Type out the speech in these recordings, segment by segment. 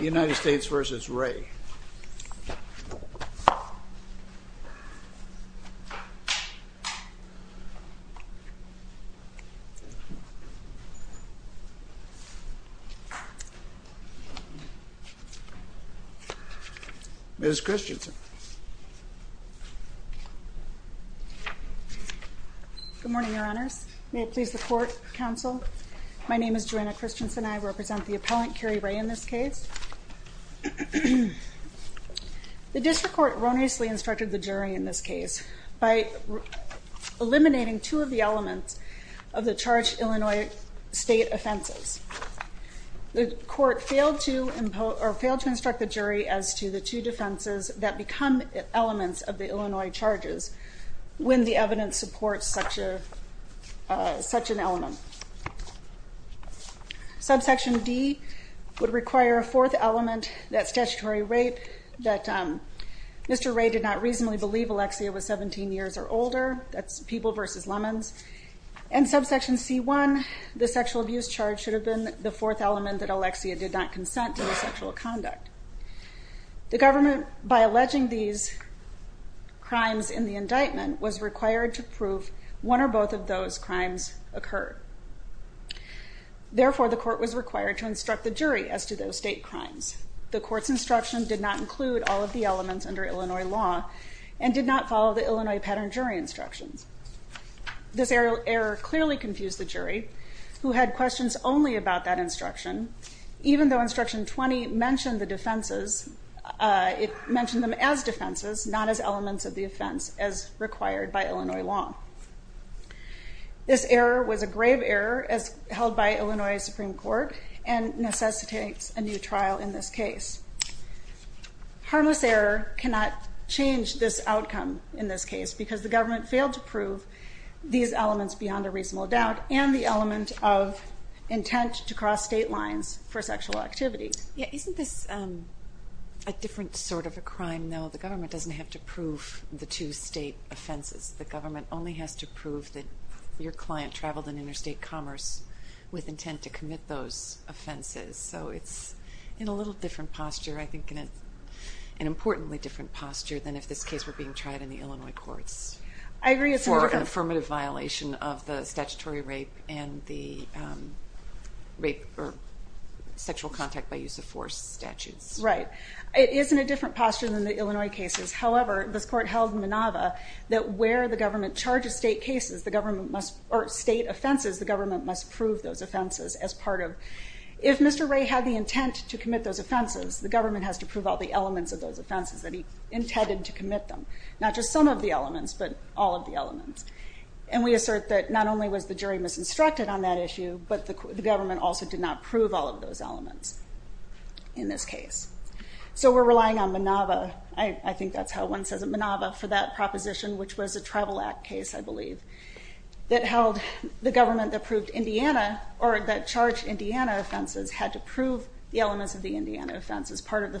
United States v. Ray Ms. Christensen Good morning, Your Honors. May it please the Court, Counsel, My name is Joanna Christensen. I represent the appellant, Carey Ray, in this case. The district court erroneously instructed the jury in this case by eliminating two of the elements of the charged Illinois state offenses. The court failed to impose or failed to instruct the jury as to the two defenses that become elements of the Illinois charges when the evidence supports such an element. Subsection D would require a fourth element, that statutory rape, that Mr. Ray did not reasonably believe Alexia was 17 years or older. That's people versus lemons. And subsection C1, the sexual abuse charge should have been the fourth element that Alexia did not consent to the sexual conduct. The government, by alleging these crimes in the indictment, was required to prove one or both of those crimes occurred. Therefore, the court was required to instruct the jury as to those state crimes. The court's instruction did not include all of the elements under Illinois law and did not follow the Illinois pattern jury instructions. This error clearly confused the jury, who had questions only about that instruction, even though instruction 20 mentioned the defenses, it mentioned them as defenses, not as elements of the offense as required by Illinois law. This error was a grave error as held by Illinois Supreme Court and necessitates a new trial in this case. Harmless error cannot change this outcome in this case because the government failed to prove these elements beyond a reasonable doubt and the element of intent to cross state lines for sexual activities. Yeah, isn't this a different sort of a crime, though? The government doesn't have to prove the two state offenses. The government only has to prove that your client traveled in interstate commerce with intent to commit those offenses. So it's in a little different posture, I think, an importantly different posture than if this case were being tried in the Illinois courts. I agree. It's an affirmative violation of the statutory rape and the rape or sexual contact by use of force statutes. Right. It is in a different posture than the Illinois cases. However, this court held MANAVA that where the government charges state cases, the government must, or state offenses, the government must prove those offenses as part of. If Mr. Ray had the intent to commit those offenses, the government has to prove all the elements of those offenses that he intended to commit them. Not just some of the elements, but all of the elements. And we assert that not only was the jury misinstructed on that issue, but the government also did not prove all of those elements in this case. So we're relying on MANAVA. I think that's how one says it. MANAVA for that proposition, which was a travel act case, I believe, that held the government that proved Indiana or that charged Indiana offenses had to prove the elements of the Indiana offense as part of the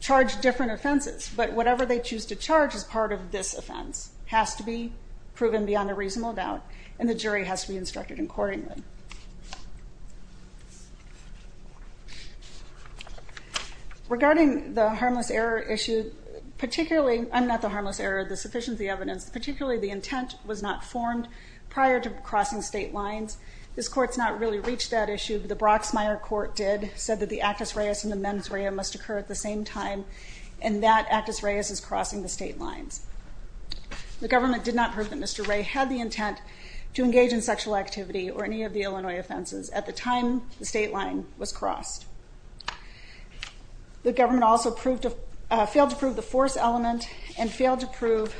charge different offenses. But whatever they choose to charge as part of this offense has to be proven beyond a reasonable doubt, and the jury has to be instructed accordingly. Regarding the harmless error issue, particularly, I'm not the harmless error, the sufficiency evidence, particularly the intent was not formed prior to crossing state lines. This court's not really reached that issue, but the Broxmire court did, said that the actus reus in the mens rea must occur at the same time and that actus reus is crossing the state lines. The government did not prove that Mr. Ray had the intent to engage in sexual activity or any of the Illinois offenses at the time the state line was crossed. The government also failed to prove the force element and failed to prove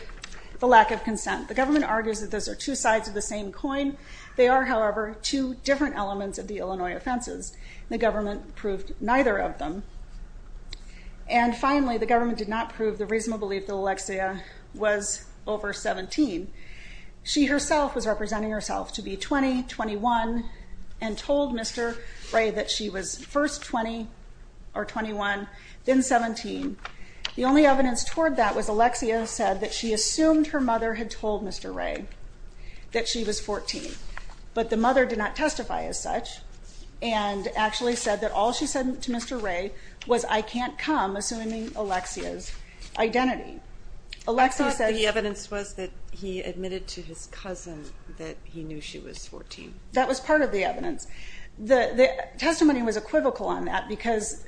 the lack of consent. The government argues that those are two sides of the same coin. They are, however, two different elements of the Illinois offenses. The government proved neither of them. And finally, the government did not prove the reasonable belief that Alexia was over 17. She herself was representing herself to be 20, 21, and told Mr. Ray that she was first 20 or 21, then 17. The only evidence toward that was Alexia said that she assumed her mother had Mr. Ray was I can't come assuming Alexia's identity. Alexia said the evidence was that he admitted to his cousin that he knew she was 14. That was part of the evidence. The testimony was equivocal on that because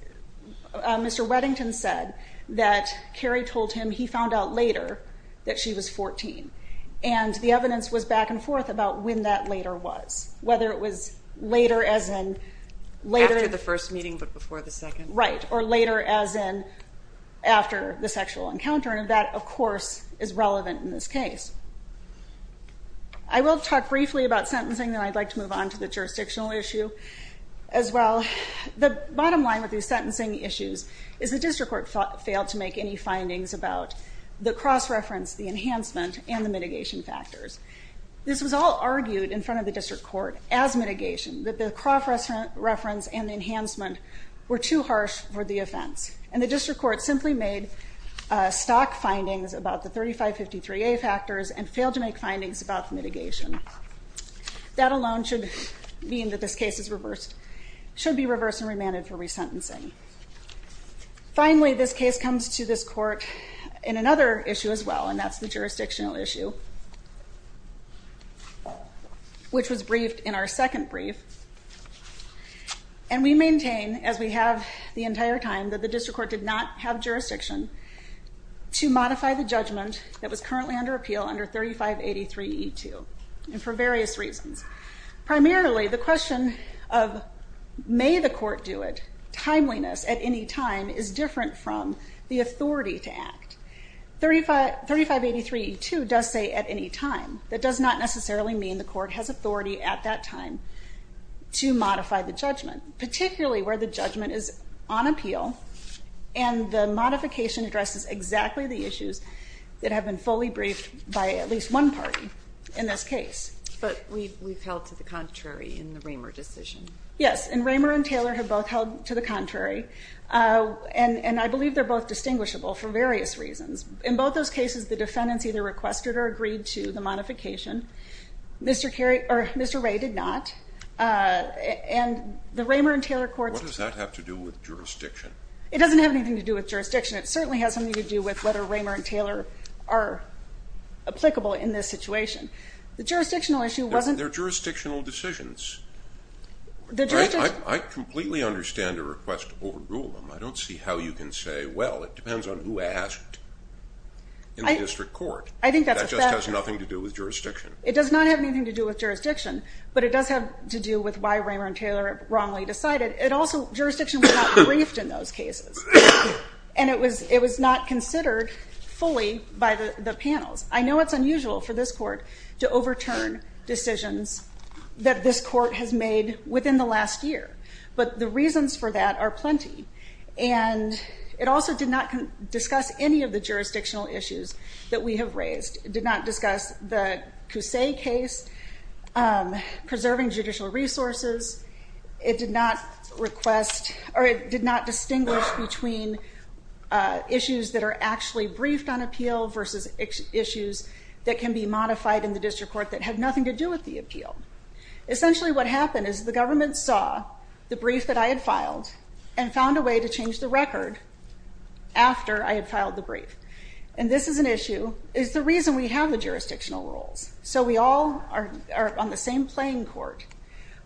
Mr. Weddington said that Kerry told him he found out later that she was 14. And the evidence was back and forth about when that later was, whether it was later as in later the first meeting, but before the second, right, or later as in after the sexual encounter. And that, of course, is relevant in this case. I will talk briefly about sentencing, then I'd like to move on to the jurisdictional issue as well. The bottom line with these sentencing issues is the district court failed to make any findings about the cross reference, the enhancement and the mitigation factors. This was all argued in front of the district court as mitigation, that the cross reference and enhancement were too harsh for the offense. And the district court simply made stock findings about the 3553A factors and failed to make findings about the mitigation. That alone should mean that this case is reversed, should be reversed and remanded for resentencing. Finally, this case comes to this court in another issue as well, and that's the jurisdictional issue, which was briefed in our second brief. And we maintain, as we have the entire time, that the district court did not have jurisdiction to modify the judgment that was currently under appeal under 3583E2, and for various reasons. Primarily, the question of may the court do it, timeliness at any time is different from the authority to act. 3583E2 does say at any time. That does not necessarily mean the court has authority at that time to modify the judgment, particularly where the judgment is on appeal and the modification addresses exactly the issues that have been fully briefed by at least one party in this case. But we've held to the contrary in Yes, and Raymer and Taylor have both held to the contrary, and I believe they're both distinguishable for various reasons. In both those cases, the defendants either requested or agreed to the modification. Mr. Ray did not, and the Raymer and Taylor courts... What does that have to do with jurisdiction? It doesn't have anything to do with jurisdiction. It certainly has something to do with whether Raymer and Taylor are applicable in this situation. The jurisdictional issue wasn't... They're jurisdictional decisions. I completely understand a request to overrule them. I don't see how you can say, well, it depends on who asked in the district court. That just has nothing to do with jurisdiction. It does not have anything to do with jurisdiction, but it does have to do with why Raymer and Taylor wrongly decided. Jurisdiction was not briefed in those cases, and it was not considered fully by the panels. I know it's unusual for this court to overturn decisions that this court has made within the last year, but the reasons for that are plenty. It also did not discuss any of the jurisdictional issues that we have raised. It did not discuss the Cusse case, preserving judicial resources. It did not request or it did not distinguish between issues that are actually briefed on appeal versus issues that can be modified in the district court that had nothing to do with the appeal. Essentially, what happened is the government saw the brief that I had filed and found a way to change the record after I had filed the brief. And this is an issue, is the reason we have the jurisdictional rules. So we all are on the same playing court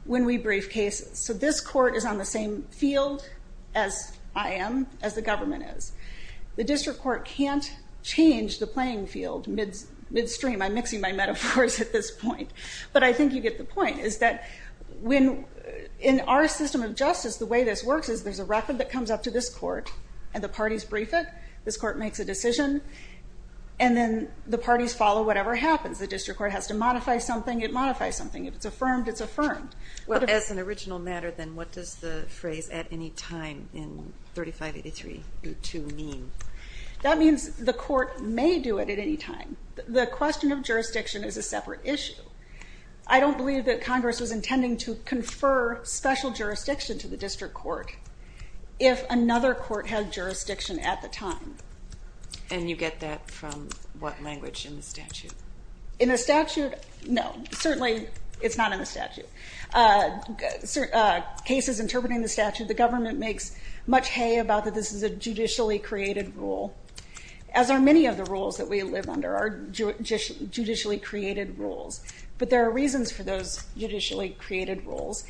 when we brief cases. So this court is on the same field as I am, as the government is. The district court can't change the playing field midstream. I'm mixing my metaphors at this point. But I think you get the point, is that in our system of justice, the way this works is there's a record that comes up to this court, and the parties brief it. This court makes a decision, and then the parties follow whatever happens. The district court has to modify something, it modifies something. If it's affirmed, it's affirmed. Well, as an original matter, then, what does the phrase, at any time in 3583.2 mean? That means the court may do it at any time. The question of jurisdiction is a separate issue. I don't believe that Congress was intending to confer special jurisdiction to the district court if another court had jurisdiction at the time. And you get that from what language in the statute? In the statute, no. Certainly, it's not in the statute. Cases interpreting the statute, the government makes much hay about that this is a judicially created rule, as are many of the rules that we live under are judicially created rules. But there are reasons for those judicially created rules.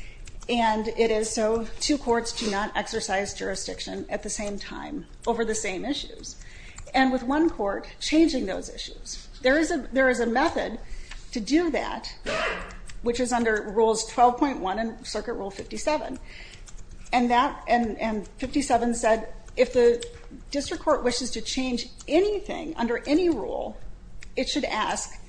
And it is so two courts do not exercise jurisdiction at the same time over the same issues, and with one court changing those issues. There is a method to do that, which is under Rules 12.1 and Circuit Rule 57. And 57 said, if the district court wishes to change anything under any rule, it should ask,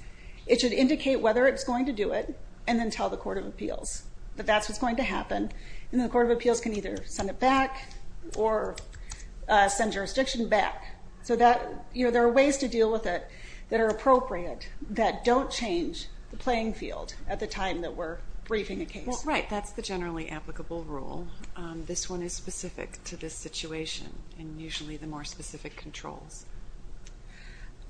it should indicate whether it's going to do it, and then tell the Court of Appeals that that's what's going to happen. And the Court of Appeals can either send it back or send jurisdiction back. So there are ways to deal with it that are appropriate that don't change the playing field at the time that we're briefing a case. That's the generally applicable rule. This one is specific to this situation, and usually the more specific controls.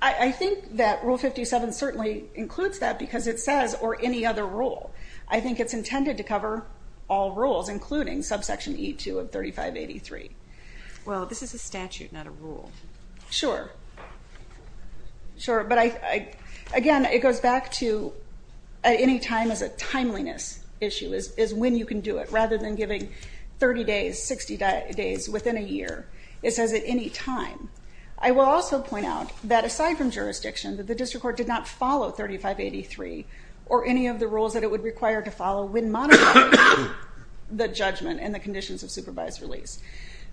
I think that Rule 57 certainly includes that because it says, or any other rule. I think it's intended to cover all rules, including subsection E2 of 3583. Well, this is a statute, not a rule. Sure. Sure. But again, it goes back to any time as a timeliness issue, is when you can do it, rather than giving 30 days, 60 days within a year. It says at any time. I will also point out that aside from jurisdiction, that the district court did not follow 3583 or any of the rules that it would require to follow when modifying the judgment and the conditions of supervised release.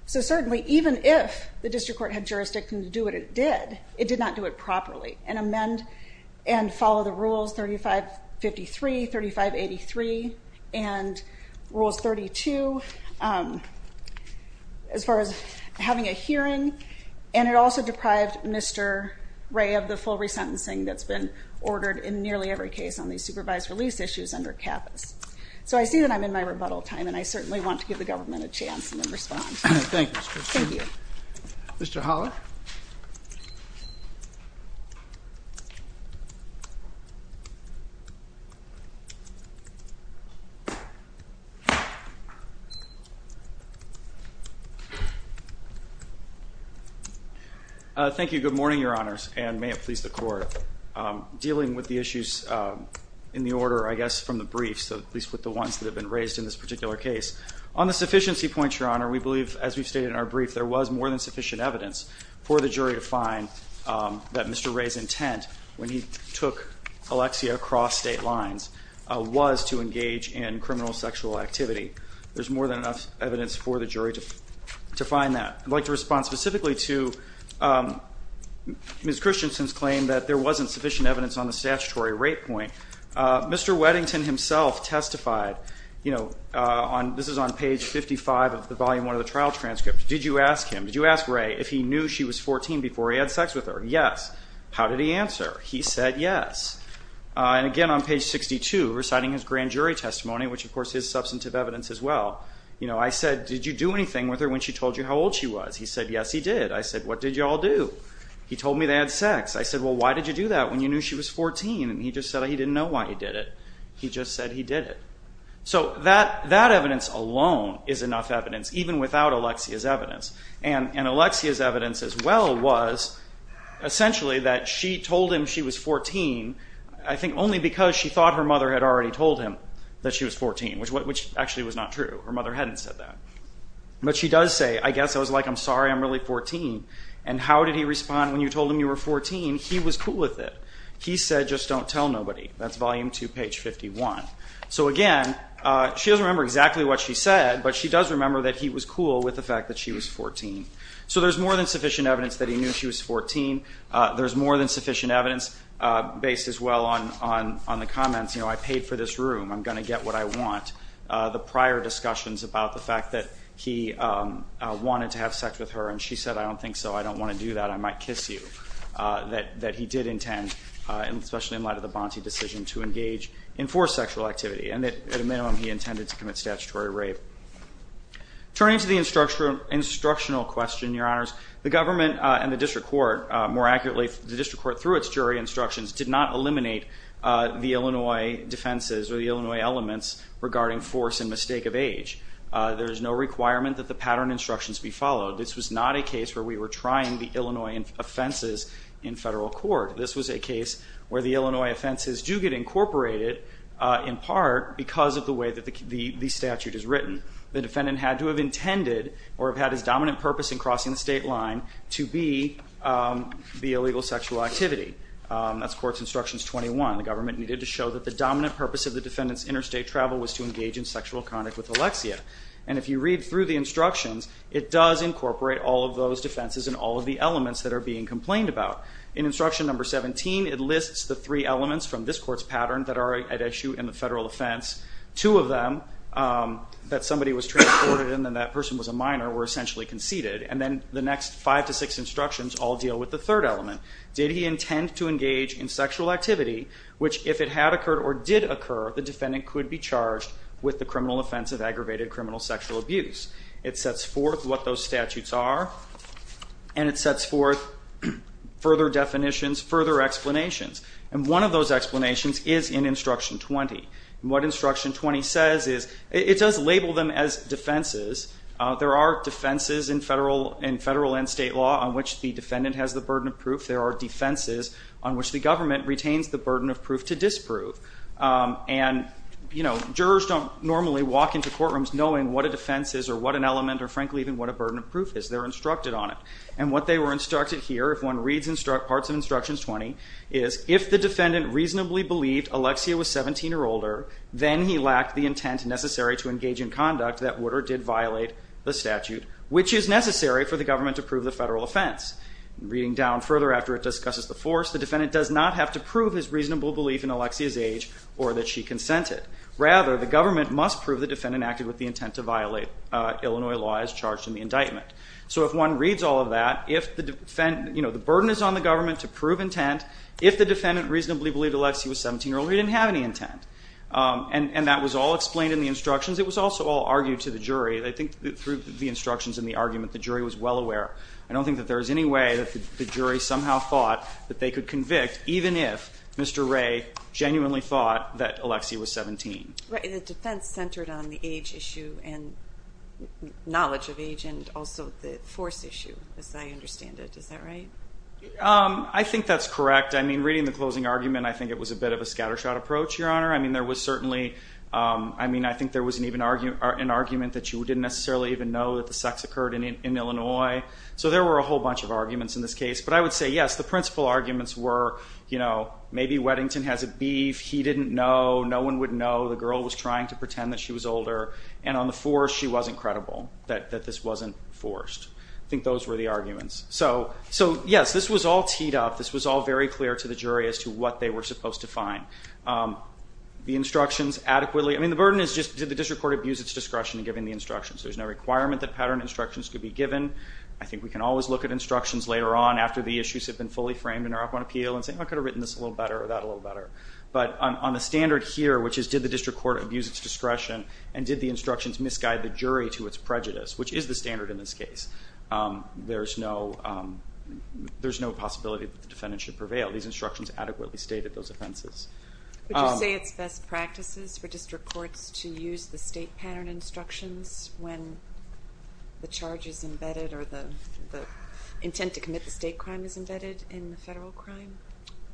So certainly, even if the district court had jurisdiction to do what it did, it did not do it properly and amend and follow the rules 3553, 3583, and Rules 32 as far as having a hearing. And it also deprived Mr. Ray of the full resentencing that's been ordered in nearly every case on these supervised release issues under CAPAS. So I see that I'm in my rebuttal time, and I certainly want to give the government a chance to respond. Thank you, Mr. Christian. Thank you. Mr. Holler. Thank you. Good morning, Your Honors, and may it please the Court. Dealing with the issues in the order, I guess, from the briefs, at least with the ones that have been raised in this brief, there was more than sufficient evidence for the jury to find that Mr. Ray's intent, when he took Alexia across state lines, was to engage in criminal sexual activity. There's more than enough evidence for the jury to find that. I'd like to respond specifically to Ms. Christensen's claim that there wasn't sufficient evidence on the statutory rape point. Mr. Weddington himself testified, this is on page 55 of the Volume 1 of the trial transcript, did you ask him, did you ask Ray if he knew she was 14 before he had sex with her? Yes. How did he answer? He said yes. And again, on page 62, reciting his grand jury testimony, which of course is substantive evidence as well, I said, did you do anything with her when she told you how old she was? He said, yes, he did. I said, what did you all do? He told me they had just said he didn't know why he did it. He just said he did it. So that evidence alone is enough evidence, even without Alexia's evidence. And Alexia's evidence as well was essentially that she told him she was 14, I think only because she thought her mother had already told him that she was 14, which actually was not true. Her mother hadn't said that. But she does say, I guess I was like, I'm sorry, I'm really 14. And how did he respond when you told him you were 14? He was cool with it. He said, just don't tell nobody. That's volume two, page 51. So again, she doesn't remember exactly what she said, but she does remember that he was cool with the fact that she was 14. So there's more than sufficient evidence that he knew she was 14. There's more than sufficient evidence based as well on the comments, you know, I paid for this room. I'm going to get what I want. The prior discussions about the fact that he wanted to have sex with that he did intend, especially in light of the Bonte decision to engage in forced sexual activity and that at a minimum he intended to commit statutory rape. Turning to the instructional question, your honors, the government and the district court, more accurately, the district court through its jury instructions did not eliminate the Illinois defenses or the Illinois elements regarding force and mistake of age. There is no requirement that the pattern instructions be followed. This was not a case where we were trying the Illinois offenses in federal court. This was a case where the Illinois offenses do get incorporated in part because of the way that the statute is written. The defendant had to have intended or have had his dominant purpose in crossing the state line to be the illegal sexual activity. That's courts instructions 21. The government needed to show that the dominant purpose of the defendant's interstate travel was to engage in sexual conduct with Alexia. If you read through the instructions, it does incorporate all of those defenses and all of the elements that are being complained about. In instruction number 17, it lists the three elements from this court's pattern that are at issue in the federal offense. Two of them that somebody was transported in and that person was a minor were essentially conceded. Then the next five to six instructions all deal with the third element. Did he intend to engage in sexual activity, which if it had occurred or did occur, the defendant could be charged with the criminal offense of aggravated criminal sexual abuse. It sets forth what those statutes are, and it sets forth further definitions, further explanations. One of those explanations is in instruction 20. What instruction 20 says is it does label them as defenses. There are defenses in federal and state law on which the defendant has the burden of proof. There are defenses on which the government retains the burden of proof to disprove. Jurors don't normally walk into courtrooms knowing what a defense is or what an element or frankly even what a burden of proof is. They're instructed on it. What they were instructed here, if one reads parts of instructions 20, is if the defendant reasonably believed Alexia was 17 or older, then he lacked the intent necessary to engage in conduct that would or did violate the statute, which is necessary for the defendant to prove his reasonable belief in Alexia's age or that she consented. Rather, the government must prove the defendant acted with the intent to violate Illinois law as charged in the indictment. So if one reads all of that, if the burden is on the government to prove intent, if the defendant reasonably believed Alexia was 17 or older, he didn't have any intent. And that was all explained in the instructions. It was also all argued to the jury. I think through the instructions and the argument, the jury was well aware. I don't think that there even if Mr. Ray genuinely thought that Alexia was 17. The defense centered on the age issue and knowledge of age and also the force issue, as I understand it. Is that right? I think that's correct. I mean, reading the closing argument, I think it was a bit of a scattershot approach, Your Honor. I mean, there was certainly, I mean, I think there was an argument that you didn't necessarily even know that the sex occurred in Illinois. So there were a whole arguments were, you know, maybe Weddington has a beef. He didn't know. No one would know. The girl was trying to pretend that she was older. And on the force, she wasn't credible that this wasn't forced. I think those were the arguments. So yes, this was all teed up. This was all very clear to the jury as to what they were supposed to find. The instructions adequately, I mean, the burden is just did the district court abuse its discretion in giving the instructions? There's no requirement that pattern instructions could be given. I think we can always look at instructions later on after the issues have been fully framed in our up on appeal and say, I could have written this a little better or that a little better. But on the standard here, which is did the district court abuse its discretion and did the instructions misguide the jury to its prejudice, which is the standard in this case, there's no possibility that the defendant should prevail. These instructions adequately stated those offenses. Would you say it's best practices for district courts to use the state pattern instructions when the charge is embedded or the intent to commit the state crime is embedded in the federal crime?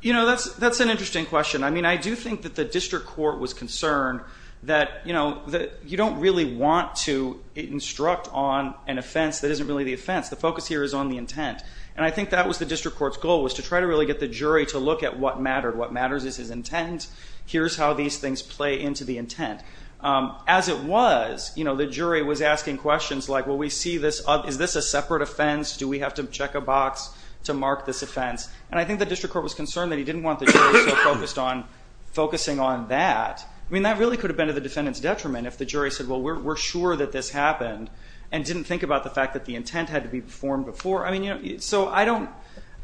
You know, that's an interesting question. I mean, I do think that the district court was concerned that, you know, that you don't really want to instruct on an offense that isn't really the offense. The focus here is on the intent. And I think that was the district court's goal, was to try to really get the jury to look at what mattered. What matters is his intent. Here's how these things play into the intent. As it was, you know, the jury was asking questions like, well, we see this, is this a separate offense? Do we have to check a box to mark this offense? And I think the district court was concerned that he didn't want the jury so focused on focusing on that. I mean, that really could have been to the defendant's detriment if the jury said, well, we're sure that this happened and didn't think about the fact that the intent had to be performed before. I mean, you know, so I don't,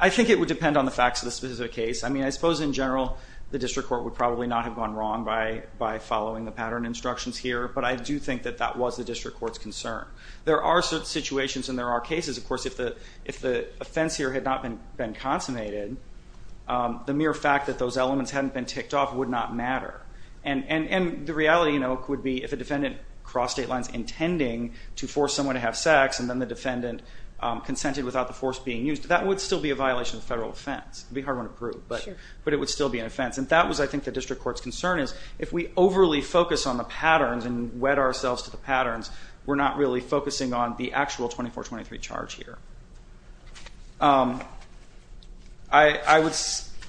I think it would depend on the facts of the specific case. I mean, I suppose in general, the district court would probably not have gone wrong by following the pattern instructions here, but I do think that that was the district court's concern. There are certain situations and there are cases, of if the offense here had not been consummated, the mere fact that those elements hadn't been ticked off would not matter. And the reality, you know, would be if a defendant crossed state lines intending to force someone to have sex and then the defendant consented without the force being used, that would still be a violation of federal offense. It would be hard to prove, but it would still be an offense. And that was, I think, the district court's concern is, if we overly focus on the patterns and wed ourselves to the patterns, we're not really focusing on the actual 24-23 charge here. I would,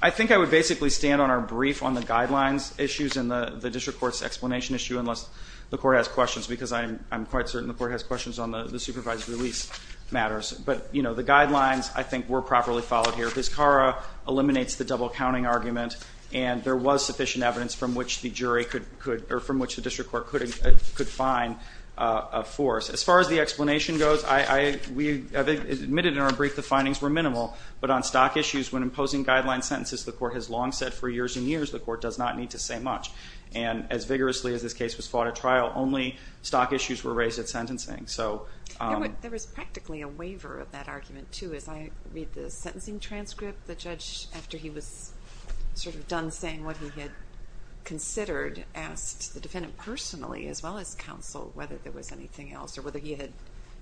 I think I would basically stand on our brief on the guidelines issues and the district court's explanation issue, unless the court has questions, because I'm quite certain the court has questions on the supervised release matters. But, you know, the guidelines, I think, were properly followed here. His CARA eliminates the double-counting argument, and there was sufficient evidence from which the jury could, or from which the district court could find a force. As far as the explanation goes, I, I, we have admitted in our brief the findings were minimal, but on stock issues when imposing guideline sentences, the court has long said for years and years, the court does not need to say much. And as vigorously as this case was fought at trial, only stock issues were raised at sentencing, so. There was practically a waiver of that argument too. As I read the sentencing transcript, the judge, after he was sort of done saying what he had considered, asked the defendant personally, as well as counsel, whether there was anything else or whether he had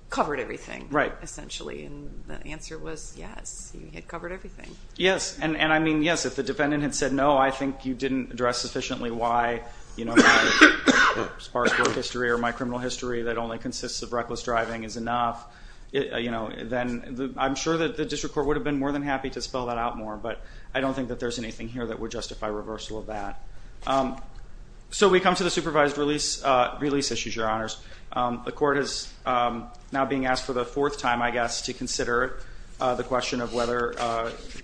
covered everything. Right. Essentially, and the answer was, yes, he had covered everything. Yes, and, and I mean, yes, if the defendant had said, no, I think you didn't address sufficiently why, you know, my sparse work history or my criminal history that only consists of reckless driving is enough, you know, then the, I'm sure that the district court would have been more than happy to spell that out more, but I don't think that there's anything here that would justify reversal of that. So we come to the supervised release, release issues, your honors. The court is now being asked for the fourth time, I guess, to consider the question of whether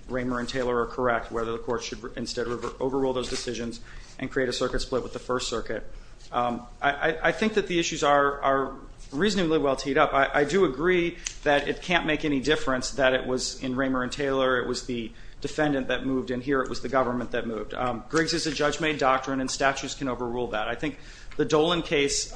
Raymer and Taylor are correct, whether the court should instead overrule those decisions and create a circuit split with the first circuit. I think that the issues are reasonably well teed up. I do agree that it can't make any difference that it was in Raymer and Taylor. It was the defendant that moved in here. It was the government that moved. Griggs is a judge-made doctrine and statutes can overrule that. I think the Dolan case,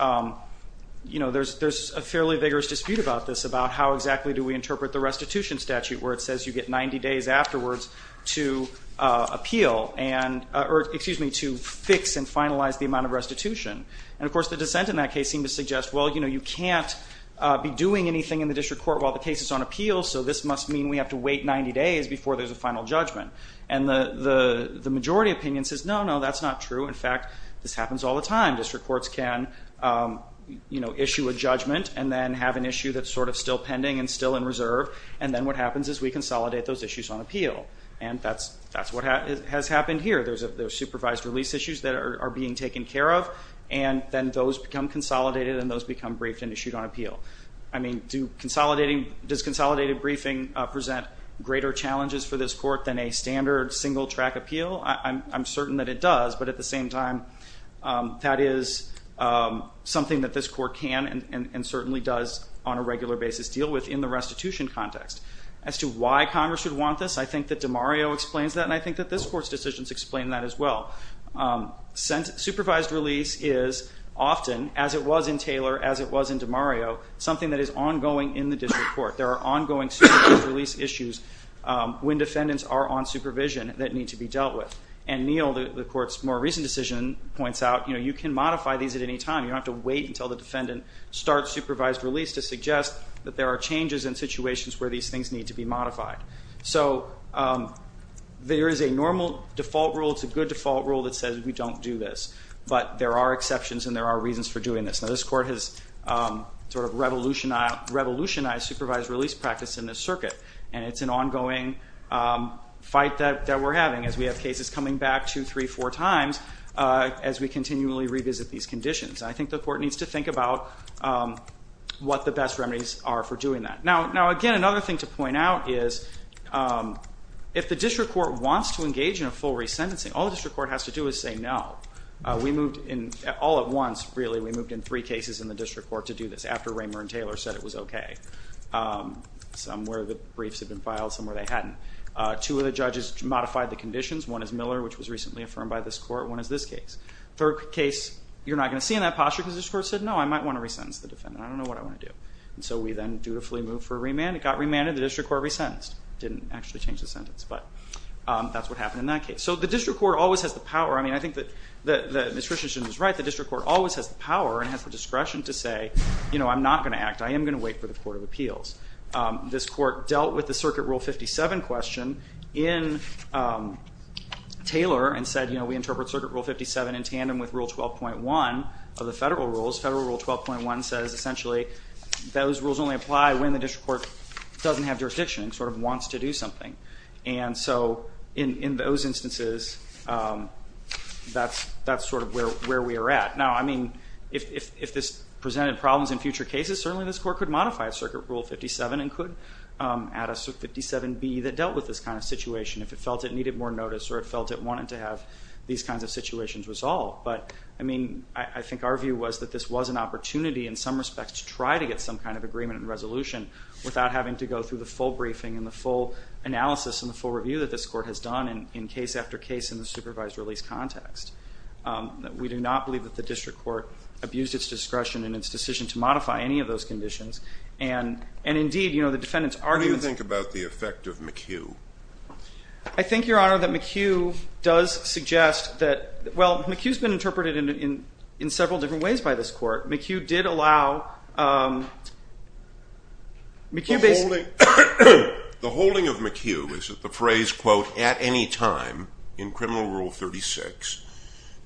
you know, there's, there's a fairly vigorous dispute about this, about how exactly do we interpret the restitution statute, where it says you get 90 days afterwards to appeal and, or excuse me, to fix and finalize the amount of restitution. And of course, the dissent in that case seemed to suggest, well, you know, you can't be doing anything in the district court while the case is on appeal. So this must mean we have to wait 90 days before there's a final judgment. And the, the, the majority opinion says, no, no, that's not true. In fact, this happens all the time. District courts can, you know, issue a judgment and then have an issue that's sort of still pending and still in reserve. And then what happens is we consolidate those issues on appeal. And that's, that's what has happened here. There's a, there's supervised release issues that are being taken care of and then those become consolidated and those become briefed and issued on appeal. I mean, do consolidating, does consolidated briefing present greater challenges for this court than a standard single-track appeal? I'm, I'm certain that it does, but at the same time, that is something that this court can and, and certainly does on a regular basis deal with in the restitution context. As to why Congress would want this, I think that DeMario explains that and I think that this court's decisions explain that as well. Since supervised release is often, as it was in Taylor, as it was in DeMario, something that is ongoing in the district court. There are ongoing supervised release issues when defendants are on supervision that need to be dealt with. And Neal, the court's more recent decision, points out, you know, you can modify these at any time. You don't have to wait until the defendant starts supervised release to suggest that there are changes in situations where these things need to be modified. So there is a normal default rule, it's a good default rule, that says we don't do this. But there are exceptions and there are reasons for doing this. Now this court has sort of revolutionized, revolutionized supervised release practice in this circuit. And it's an ongoing fight that, that we're having as we have cases coming back two, three, four times as we continually revisit these conditions. I think the court needs to think about what the best remedies are for doing that. Now, now again, another thing to point out is if the district court wants to engage in a full resentencing, all the district court has to do is say no. We moved in, all at once really, we moved in three cases in the district court to do this after Raymond and Taylor said it was okay. Some where the briefs had been filed, some where they hadn't. Two of the judges modified the conditions. One is Miller, which was recently affirmed by this court. One is this case. Third case, you're not going to see in that posture because this court said, no, I might want to resentence the defendant. I don't know what I want to do. And so we then dutifully moved for a remand. It got remanded, the district court resentenced. Didn't actually change the sentence, but that's what happened in that case. So the district court always has the power. I mean, I think that Ms. Christensen is right. The district court always has the power and has the discretion to say, you know, I'm not going to act. I am going to wait for the court of appeals. This court dealt with the circuit rule 57 question in Taylor and said, you know, we interpret circuit rule 57 in tandem with rule 12.1 of the federal rules. Federal rule 12.1 says essentially those rules only apply when the district court doesn't have jurisdiction and wants to do something. And so in those instances, that's sort of where we are at. Now, I mean, if this presented problems in future cases, certainly this court could modify circuit rule 57 and could add a 57B that dealt with this kind of situation if it felt it needed more notice or it felt it wanted to have these kinds of situations resolved. But I mean, I think our view was that this was an opportunity in some respects to try to get some kind of agreement and the full analysis and the full review that this court has done in case after case in the supervised release context. We do not believe that the district court abused its discretion and its decision to modify any of those conditions. And indeed, you know, the defendants argue that... What do you think about the effect of McHugh? I think, Your Honor, that McHugh does suggest that, well, McHugh's been interpreted in several different ways by this court. McHugh did The holding of McHugh is that the phrase, quote, at any time in criminal rule 36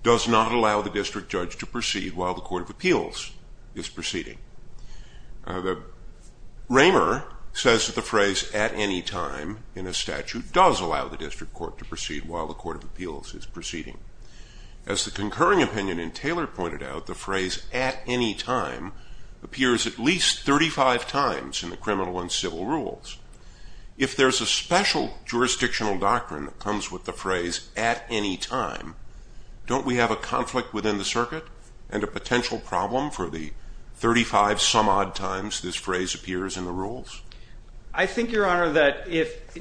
does not allow the district judge to proceed while the court of appeals is proceeding. The Raymer says that the phrase at any time in a statute does allow the district court to proceed while the court of appeals is proceeding. As the concurring opinion in Taylor pointed out, the phrase at any time appears at least 35 times in the criminal and civil rules. If there's a special jurisdictional doctrine that comes with the phrase at any time, don't we have a conflict within the circuit and a potential problem for the 35 some odd times this phrase appears in the rules? I think, Your Honor, that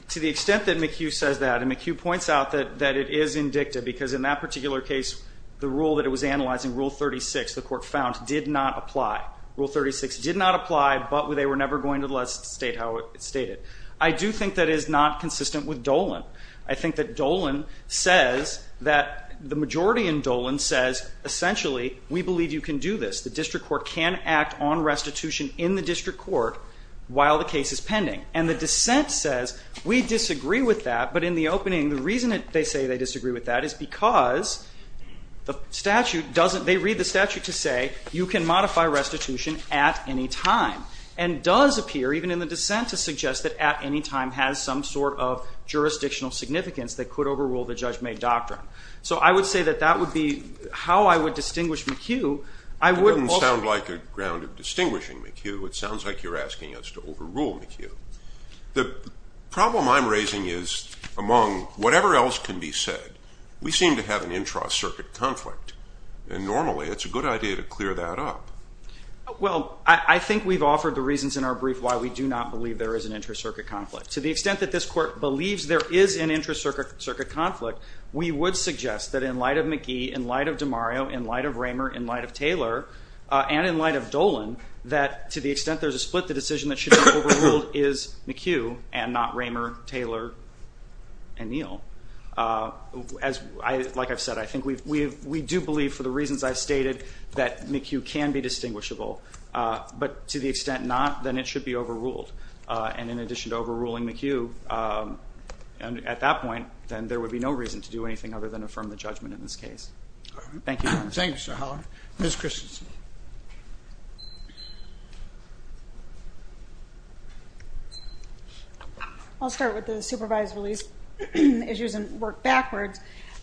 to the extent that McHugh says that, and McHugh points out that it is indicted because in that particular case, the rule that it was analyzing, Rule 36, the court found, did not apply. Rule 36 did not apply, but they were never going to state how it stated. I do think that is not consistent with Dolan. I think that Dolan says that the majority in Dolan says, essentially, we believe you can do this. The district court can act on restitution in the district court while the case is pending. And the dissent says, we disagree with that, but in the opening, the reason they say they disagree with that is because the statute doesn't, they read the statute to say, you can modify restitution at any time. And does appear, even in the dissent, to suggest that at any time has some sort of jurisdictional significance that could overrule the judge-made doctrine. So I would say that that would be how I would distinguish McHugh. I wouldn't sound like a ground of distinguishing McHugh. It sounds like you're asking us to overrule McHugh. The problem I'm raising is, among whatever else can be said, we seem to have an intracircuit conflict. And normally, it's a good idea to clear that up. Well, I think we've offered the reasons in our brief why we do not believe there is an intracircuit conflict. To the extent that this court believes there is an intracircuit conflict, we would suggest that in light of McGee, in light of DeMario, in light of Raymer, in light of Taylor, and in light of Dolan, that to the extent there's a split, the decision that should be overruled is McHugh and not Raymer, Taylor, and Neal. Like I've said, I think we do believe, for the reasons I've stated, that McHugh can be distinguishable. But to the extent not, then it should be overruled. And in addition to overruling McHugh, at that point, then there would be no reason to do anything other than affirm the judgment in this case. Thank you. Thank you, Mr. Haller. Ms. Christensen. I'll start with the supervised release issues and work backwards.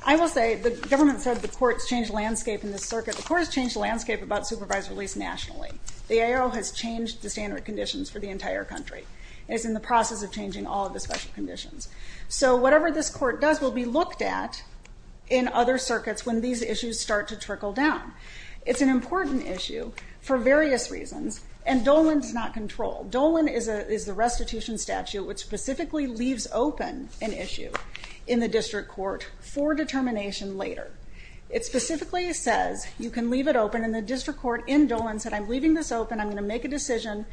I will say the government said the court's changed landscape in this circuit. The court has changed the landscape about supervised release nationally. The ARO has changed the standard conditions for the entire country. It's in the process of changing all of the special conditions. So whatever this court does will be looked at in other circuits when these issues start to trickle down. It's an important issue for various reasons, and Dolan does not control. Dolan is the restitution statute which specifically leaves open an issue in the district court for determination later. It specifically says you can leave it open, and the district court in Dolan said, I'm leaving this open. I'm going to make a decision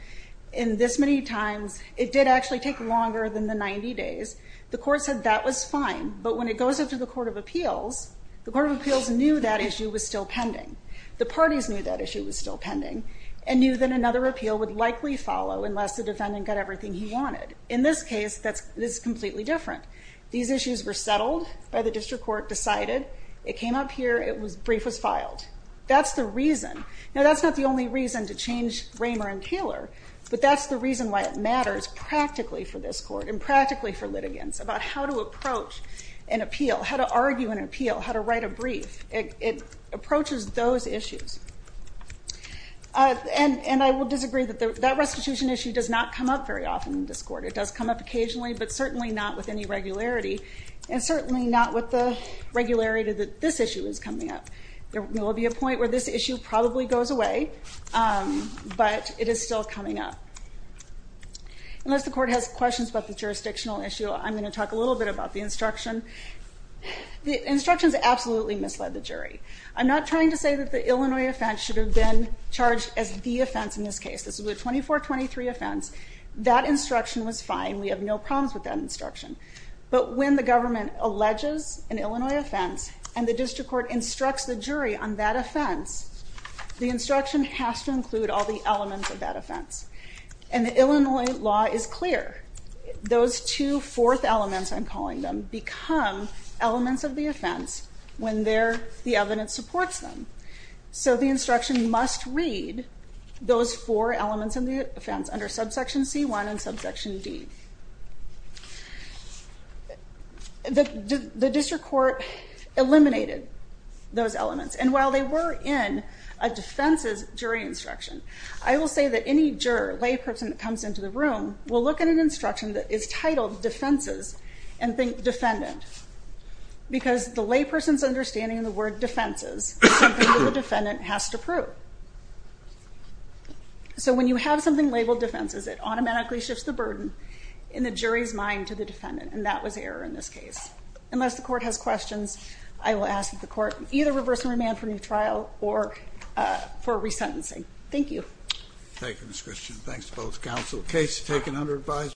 in this many times. It did actually take longer than the 90 days. The court said that was fine. But when it goes up to the Court of Appeals, the Court of Appeals knew that issue was still pending, and knew that another appeal would likely follow unless the defendant got everything he wanted. In this case, it's completely different. These issues were settled by the district court, decided. It came up here. A brief was filed. That's the reason. Now that's not the only reason to change Raymer and Kehler, but that's the reason why it matters practically for this court and practically for litigants about how to approach an appeal, how to argue an appeal, how to write a brief. It approaches those issues. And I will disagree that that restitution issue does not come up very often in this court. It does come up occasionally, but certainly not with any regularity, and certainly not with the regularity that this issue is coming up. There will be a point where this issue probably goes away, but it is still coming up. Unless the court has questions about the jurisdictional issue, I'm going to talk a little bit about the instruction. The instructions absolutely misled the jury. I'm not trying to say that the Illinois offense should have been charged as the offense in this case. This was a 24-23 offense. That instruction was fine. We have no problems with that instruction. But when the government alleges an Illinois offense and the district court instructs the jury on that offense, the instruction has to include all the elements of that offense. And the Illinois law is clear. Those two fourth elements, I'm calling them, become elements of the offense when the evidence supports them. So the instruction must read those four elements of the offense under subsection C1 and subsection D. The district court eliminated those elements. And while they were in a defense's jury instruction, I will say that any juror, layperson that comes into the room, will look at an instruction that is titled defenses and think defendant. Because the layperson's understanding of the word defenses is something that the defendant has to prove. So when you have something labeled defenses, it automatically shifts the burden in the jury's mind to the defendant. And that was error in this case. Unless the court has questions, I will ask that the court either reverse and remand for new trial or for resentencing. Thank you. Thank you, Ms. Christian. Thanks to both counsel. Case taken under advice.